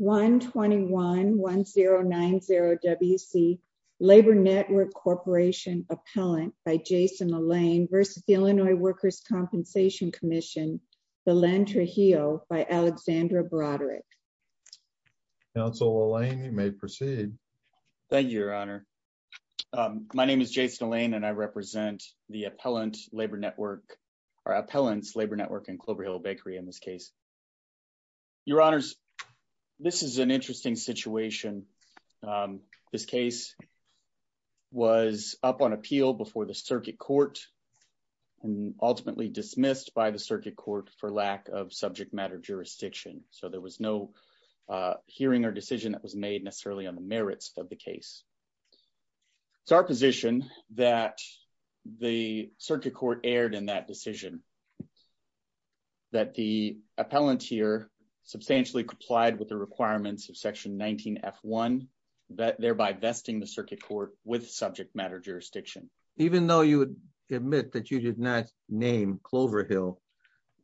121-1090-WC Labor Network Corporation Appellant by Jason Alain v. Illinois Workers' Compensation Comm'n Belen Trujillo by Alexandra Broderick. Council Alain, you may proceed. Thank you, Your Honor. My name is Jason Alain and I represent the Appellants Labor Network in Clover Hill Bakery in this case. Your Honors, this is an interesting situation. This case was up on appeal before the circuit court and ultimately dismissed by the circuit court for lack of subject matter jurisdiction. So there was no hearing or decision that was made necessarily on the merits of the case. It's our position that the circuit court erred in that decision. That the appellant here substantially complied with the requirements of Section 19F1, thereby vesting the circuit court with subject matter jurisdiction. Even though you would admit that you did not name Clover Hill,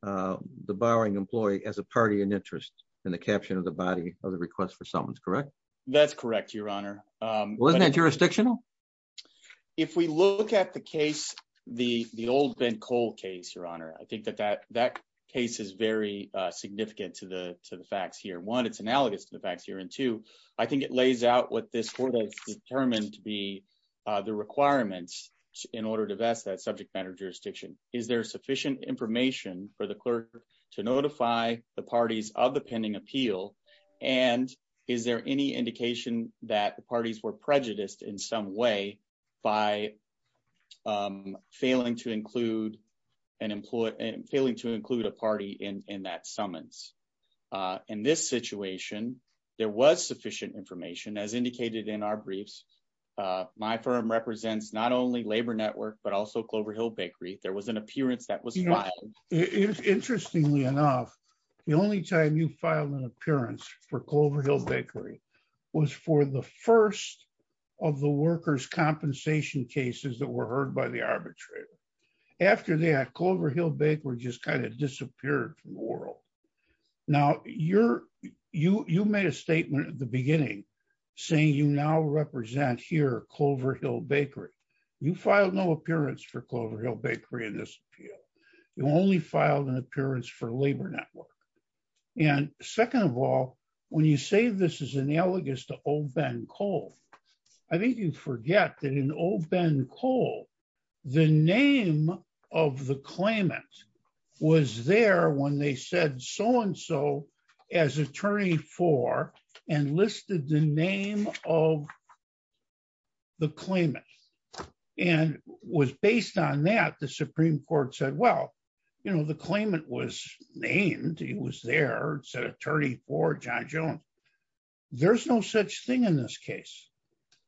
the borrowing employee, as a party in interest in the caption of the body of the request for summons, correct? That's correct, Your Honor. Wasn't that jurisdictional? If we look at the case, the old Ben Cole case, Your Honor, I think that that case is very significant to the facts here. One, it's analogous to the facts here. And two, I think it lays out what this court has determined to be the requirements in order to vest that subject matter jurisdiction. Is there sufficient information for the clerk to notify the parties of the pending appeal? And is there any indication that the parties were prejudiced in some way by failing to include a party in that summons? In this situation, there was sufficient information, as indicated in our briefs. My firm represents not only Labor Network, but also Clover Hill Bakery. There was an appearance that was filed. Interestingly enough, the only time you filed an appearance for Clover Hill Bakery was for the first of the workers' compensation cases that were heard by the arbitrator. After that, Clover Hill Bakery just kind of disappeared from the world. Now, you made a statement at the beginning saying you now represent here Clover Hill Bakery. You filed no appearance for Clover Hill Bakery in this appeal. You only filed an appearance for Labor Network. And second of all, when you say this is analogous to O. Ben Cole, I think you forget that in O. Ben Cole, the name of the claimant was there when they said so-and-so as attorney for and listed the name of the claimant. And was based on that, the Supreme Court said, well, you know, the claimant was named. He was there, said attorney for John Jones. There's no such thing in this case.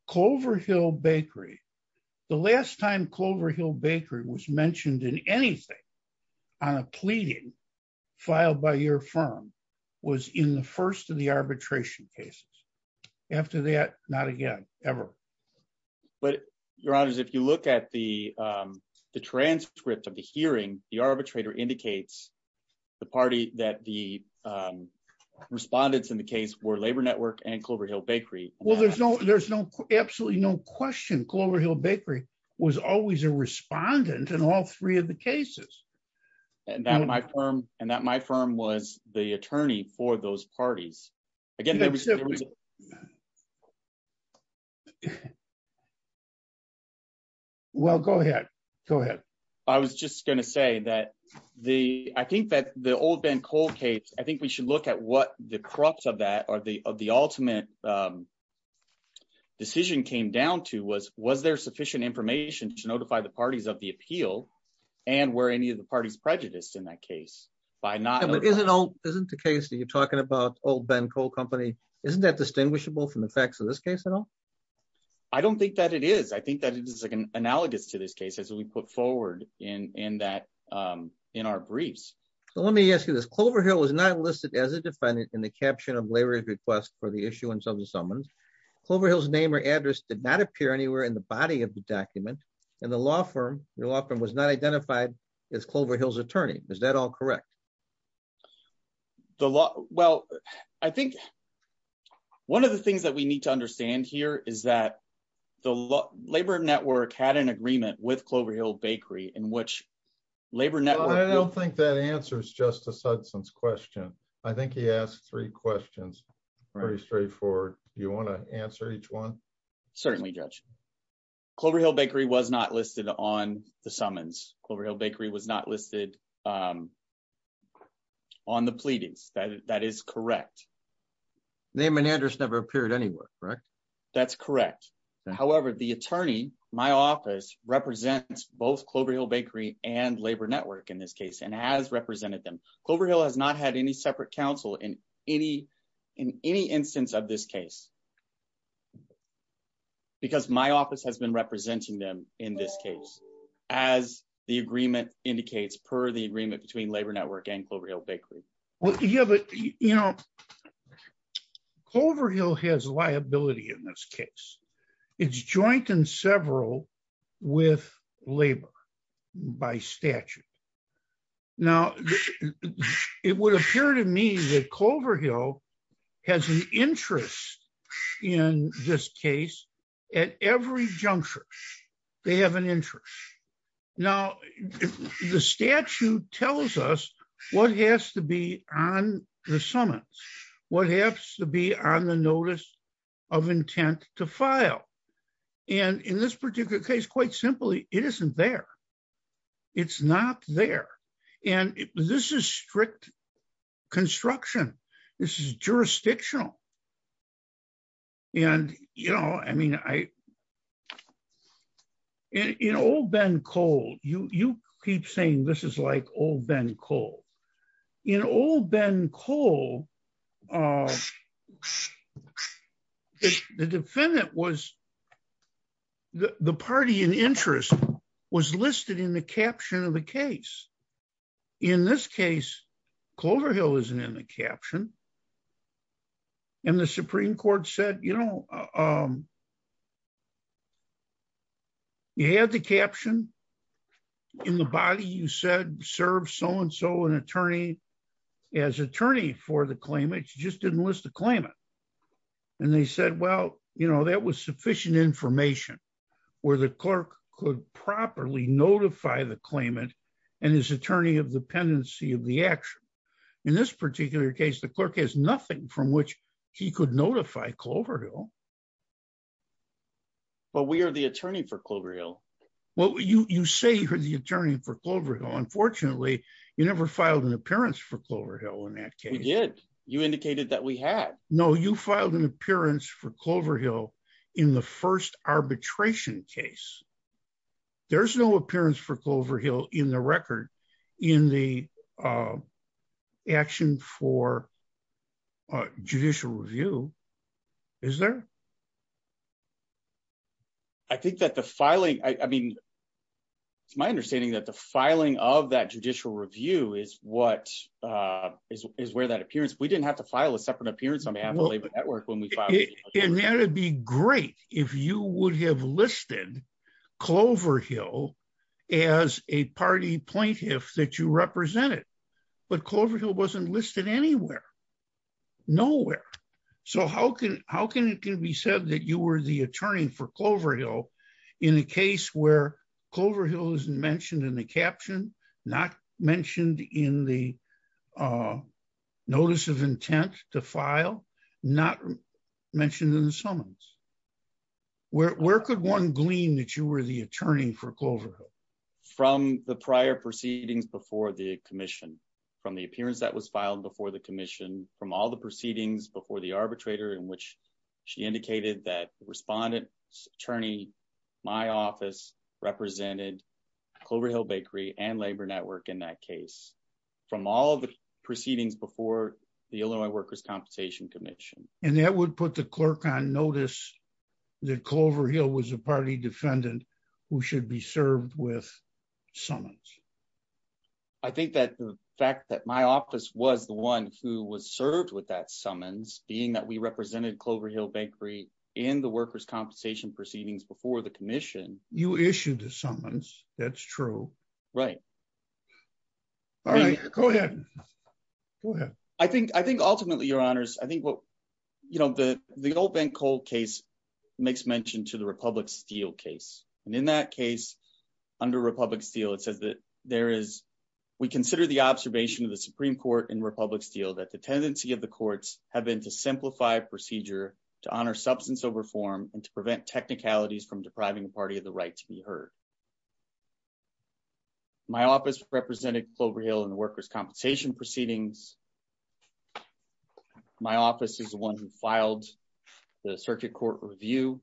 Clover Hill Bakery, the last time Clover Hill Bakery was in the first of the arbitration cases. After that, not again, ever. But, Your Honors, if you look at the transcript of the hearing, the arbitrator indicates the party that the respondents in the case were Labor Network and Clover Hill Bakery. Well, there's no, there's no, absolutely no question. Clover Hill Bakery was always a for those parties. Well, go ahead. Go ahead. I was just going to say that the, I think that the O. Ben Cole case, I think we should look at what the crux of that or the ultimate decision came down to was, was there sufficient information to notify the parties of the appeal and were any of by not. But isn't, isn't the case that you're talking about O. Ben Cole company, isn't that distinguishable from the facts of this case at all? I don't think that it is. I think that it is analogous to this case as we put forward in, in that in our briefs. So let me ask you this. Clover Hill was not listed as a defendant in the caption of labor's request for the issuance of the summons. Clover Hill's name or address did not appear anywhere in the body of the document. And the law firm, the law firm was not identified as Clover Hill's attorney. Is that all correct? The law? Well, I think one of the things that we need to understand here is that the labor network had an agreement with Clover Hill bakery in which labor network. I don't think that answers justice Hudson's question. I think he asked three questions. Very straightforward. You want to answer each one? Certainly judge Clover Hill bakery was not listed on the summons. Clover Hill bakery was not listed on the pleadings. That is correct. Name and address never appeared anywhere, right? That's correct. However, the attorney, my office represents both Clover Hill bakery and labor network in this case, and as represented them, Clover Hill has not had any separate counsel in any, in any instance of this case, because my office has been representing them in this case, as the agreement indicates per the agreement between labor network and Clover Hill bakery. Well, yeah, but you know, Clover Hill has liability in this case. It's joint and several with labor by statute. Now, it would appear to me that Clover Hill has an interest in this case, at every juncture, they have an interest. Now, the statute tells us what has to be on the summons, what has to be on the notice of intent to file. And in this particular case, quite simply, it isn't there. It's not there. And this is strict construction. This is jurisdictional. And, you know, I mean, I, you know, old Ben Cole, you keep saying this is like old Ben Cole, you know, old Ben Cole. The defendant was the party in interest was listed in the caption of the case. In this case, Clover Hill isn't in the caption. And the Supreme Court said, you know, you had the caption in the body, you said serve so and so an attorney, as attorney for the claim, it just didn't list the claimant. And they said, well, you know, that was sufficient information, where the clerk could properly notify the claimant, and his attorney of dependency of the action. In this particular case, the clerk has nothing from which he could notify Clover Hill. But we are the attorney for Clover Hill. Well, you say you're the attorney for Clover Hill. Unfortunately, you never filed an appearance for Clover Hill in that case. You indicated that we had no you filed an appearance for Clover Hill in the first arbitration case. There's no appearance for Clover Hill in the record in the action for judicial review, is there? I think that the filing I mean, it's my understanding that the filing of that judicial review is what is where that appearance, we didn't have to file a separate appearance on behalf of the labor network when we filed. And that'd be great if you would have listed Clover Hill as a party plaintiff that you represented. But Clover Hill wasn't listed anywhere. Nowhere. So how can how can it can be said that you were the attorney for Clover Hill, in a case where Clover Hill isn't mentioned in the caption, not mentioned in the notice of intent to file, not mentioned in the summons? Where could one glean that you were the attorney for Clover Hill? From the prior proceedings before the commission, from the appearance that was filed before the commission, from all the proceedings before the my office represented Clover Hill bakery and labor network in that case, from all the proceedings before the Illinois Workers' Compensation Commission, and that would put the clerk on notice that Clover Hill was a party defendant, who should be served with summons. I think that the fact that my office was the one who was served with that summons being that we represented Clover Hill bakery in the Workers' Compensation proceedings before the commission. You issued the summons. That's true. Right. All right, go ahead. Go ahead. I think I think ultimately, your honors, I think what, you know, the the old Ben Cole case makes mention to the Republic Steel case. And in that case, under Republic Steel, it says that there is, we consider the observation of the Supreme Court in Republic Steel that the tendency of the courts have been to simplify procedure to honor substance over form and to prevent technicalities from depriving the party of the right to be heard. My office represented Clover Hill in the Workers' Compensation proceedings. My office is the one who filed the circuit court review.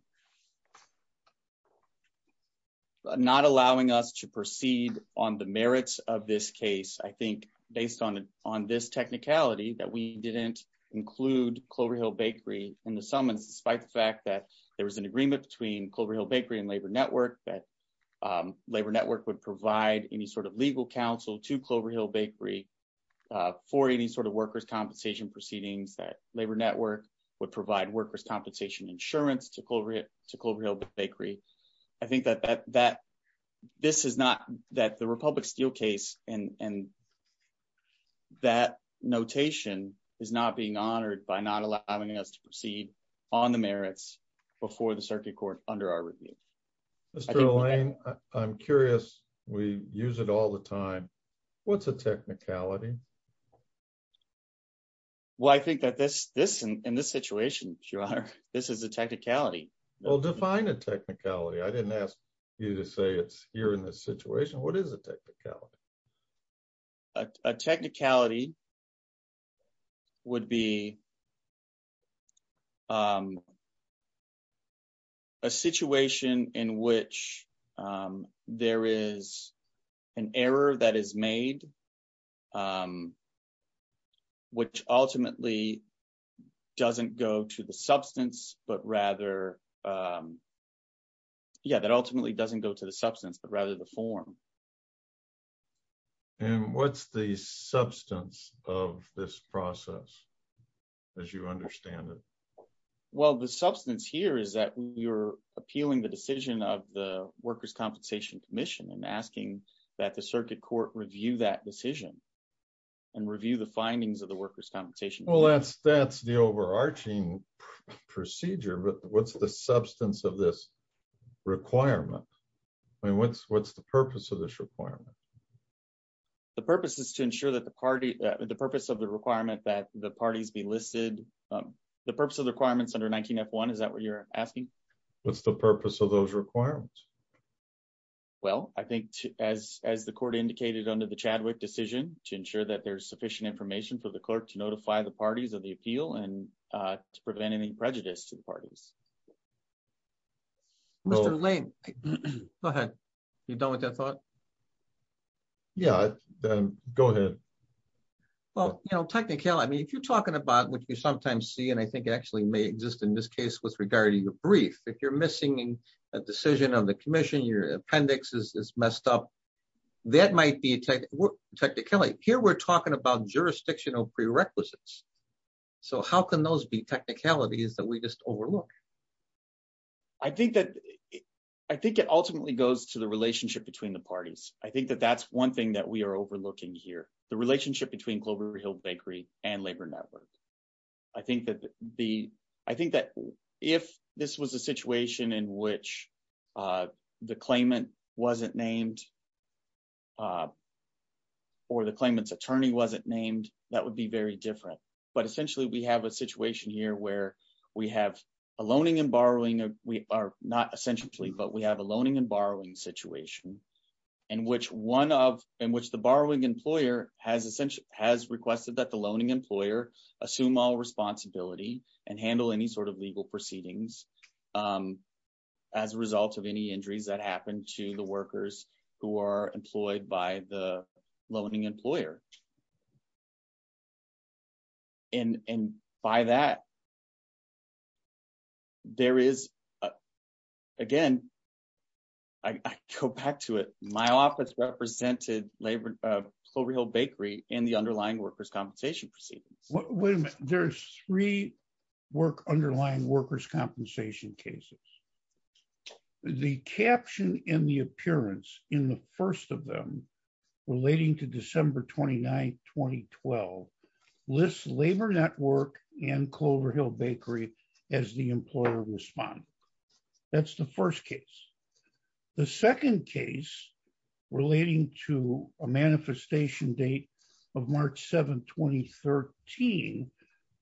Not allowing us to proceed on the merits of this case, I think, based on on this technicality that we didn't include Clover Hill bakery in the summons, despite the fact that there was an agreement between Clover Hill bakery and Labor Network, that Labor Network would provide any sort of legal counsel to Clover Hill bakery for any sort of Workers' Compensation proceedings, that Labor Network would provide Workers' Compensation insurance to Clover Hill bakery. I think that that this is not that the Republic Steel case and that notation is not being honored by not allowing us to proceed on the merits before the circuit court under our review. Mr. Lane, I'm curious, we use it all the time. What's a technicality? Well, I think that this this in this situation, your honor, this is a technicality. Well, define a technicality. I didn't ask you to say it's here in this situation. What is a technicality? A technicality would be a situation in which there is an error that is made, um, which ultimately doesn't go to the substance, but rather, yeah, that ultimately doesn't go to the substance, but rather the form. And what's the substance of this process, as you understand it? Well, the substance here is that you're appealing the decision of the Workers' Court to review that decision and review the findings of the Workers' Compensation. Well, that's that's the overarching procedure. But what's the substance of this requirement? I mean, what's what's the purpose of this requirement? The purpose is to ensure that the party, the purpose of the requirement that the parties be listed. The purpose of the requirements under 19F1, is that what you're asking? What's the purpose of those requirements? Well, I think, as as the court indicated under the Chadwick decision, to ensure that there's sufficient information for the clerk to notify the parties of the appeal and to prevent any prejudice to the parties. Mr. Lane, go ahead. You're done with that thought? Yeah, go ahead. Well, you know, technicality, I mean, if you're talking about what you sometimes see, and I think actually may exist in this case with regarding the brief, if you're missing a decision on the commission, your appendix is messed up. That might be a technicality. Here, we're talking about jurisdictional prerequisites. So how can those be technicalities that we just overlook? I think that I think it ultimately goes to the relationship between the parties. I think that that's one thing that we are overlooking here, the relationship between Clover Hill Bakery and Labor Network. I think that the I think that if this was a situation in which the claimant wasn't named or the claimant's attorney wasn't named, that would be very different. But essentially, we have a situation here where we have a loaning and borrowing. We are not essentially, but we have a loaning and borrowing situation in which one of in which the borrowing employer has essentially has requested that the loaning employer assume all responsibility and handle any sort of legal proceedings as a result of any injuries that happen to the workers who are employed by the loaning employer. And by that, there is, again, I go back to it, my office represented Clover Hill Bakery in the underlying workers' compensation proceedings. Wait a minute, there's three work underlying workers' compensation cases. The caption in the appearance in the first of them relating to December 29, 2012, lists Labor Network and Clover Hill Bakery as the employer responded. That's the first case. The second case relating to a manifestation date of March 7, 2013,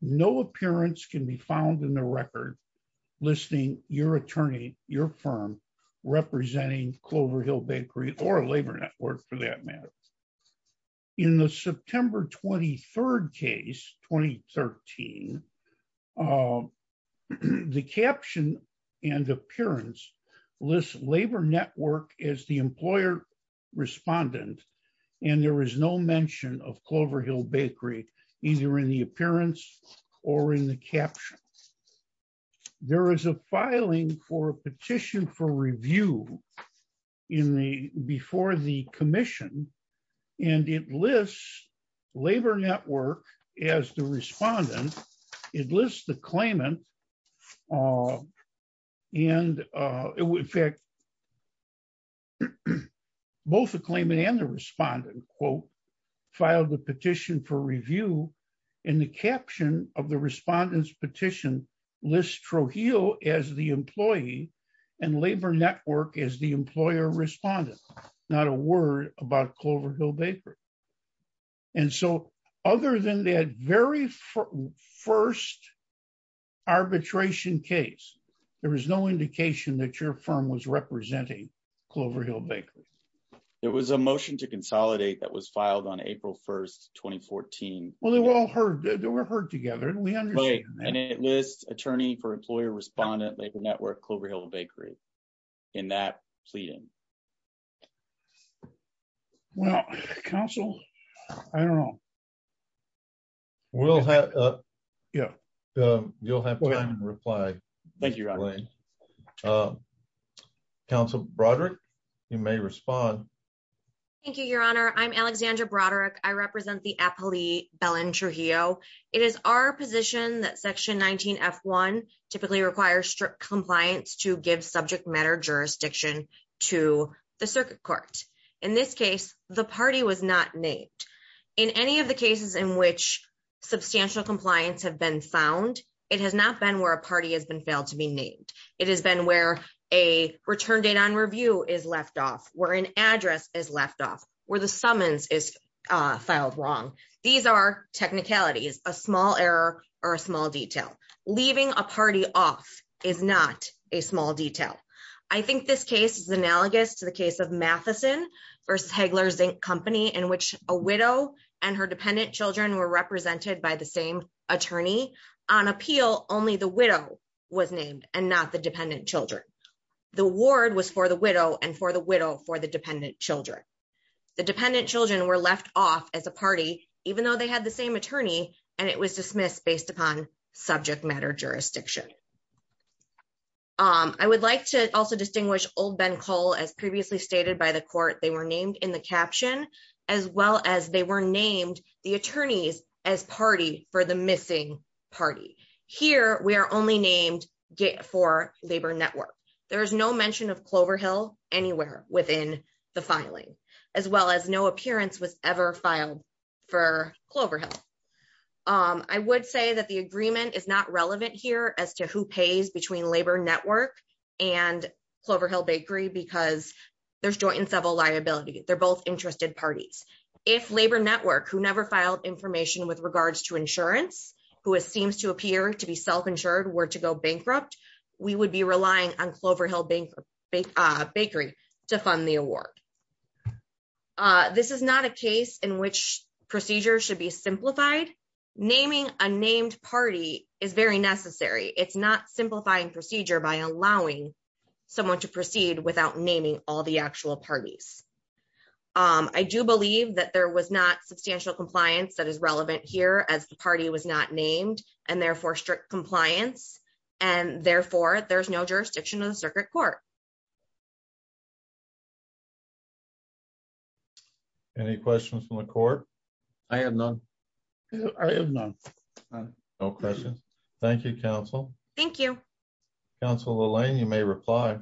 no appearance can be found in the record listing your attorney, your firm, representing Clover Hill Bakery or Labor Network for that matter. In the September 23rd case, 2013, the caption and appearance lists Labor Network as the employer respondent, and there is no mention of Clover Hill Bakery, either in the appearance or in the and it lists Labor Network as the respondent, it lists the claimant, and in fact, both the claimant and the respondent, quote, filed the petition for review, and the caption of the respondent's petition lists Trujillo as the employee and Labor Network as the employer respondent, not a word about Clover Hill Bakery. And so, other than that very first arbitration case, there was no indication that your firm was representing Clover Hill Bakery. There was a motion to consolidate that was filed on April 1, 2014. Well, they were all heard, they were heard together, and we understand that. And it lists attorney for employer respondent, Labor Network, Clover Hill Bakery, in that pleading. Well, counsel, I don't know. We'll have, yeah, you'll have time to reply. Thank you. Counsel Broderick, you may respond. Thank you, Your Honor. I'm Alexandra Broderick. I represent the appellee, Belen Trujillo. It is our position that Section 19F1 typically requires strict compliance to give subject matter jurisdiction to the circuit court. In this case, the party was not named. In any of the cases in which substantial compliance have been found, it has not been where a party has been failed to be named. It has been where a return date on review is left off, where an address is left off, where the summons is filed wrong. These are technicalities, a small error or a small detail. Leaving a party off is not a small detail. I think this case is analogous to the case of Matheson v. Hagler Zinc Company in which a widow and her dependent children were represented by the same attorney. On appeal, only the widow was named and not the dependent children. The ward was for the widow and for the widow for the dependent children. The dependent children were left off as a party, even though they had the same attorney, and it was dismissed based upon subject matter jurisdiction. I would like to also distinguish Old Ben Cole. As previously stated by the court, they were named in the caption as well as they were named the attorneys as party for the missing party. Here, we are only named for Labor Network. There is no mention of Clover Hill anywhere within the filing as well as no appearance was ever filed for Clover Hill. I would say that the agreement is not relevant here as to who pays between Labor Network and Clover Hill Bakery because there's joint and several liability. They're both interested parties. If Labor who never filed information with regards to insurance who seems to appear to be self-insured were to go bankrupt, we would be relying on Clover Hill Bakery to fund the award. This is not a case in which procedures should be simplified. Naming a named party is very necessary. It's not simplifying procedure by allowing someone to proceed without naming all the actual parties. I do believe that there was not substantial compliance that is relevant here as the party was not named and therefore strict compliance and therefore there's no jurisdiction of the circuit court. Any questions from the court? I have none. I have none. No questions. Thank you, counsel. Thank you, counsel. Elaine, you may reply.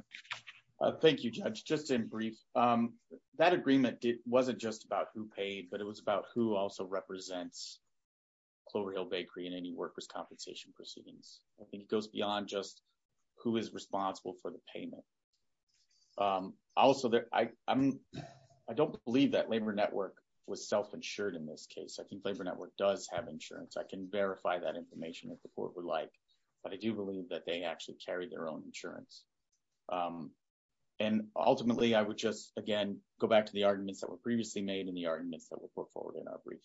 Thank you, Judge. Just in brief, that agreement wasn't just about who paid but it was about who also represents Clover Hill Bakery and any workers compensation proceedings. I think it goes beyond just who is responsible for the payment. Also, I don't believe that Labor Network was self-insured in this case. I think Labor Network does have insurance. I can verify that information if the court would like but I do believe that they actually carry their own insurance. Ultimately, I would just, again, go back to the arguments that were previously made and the arguments that were put forward in our brief.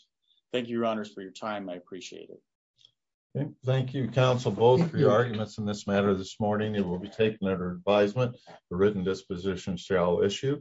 Thank you, your honors, for your time. I appreciate it. Thank you, counsel, both for your arguments in this matter this morning. It will be taken under advisement. The written disposition shall issue.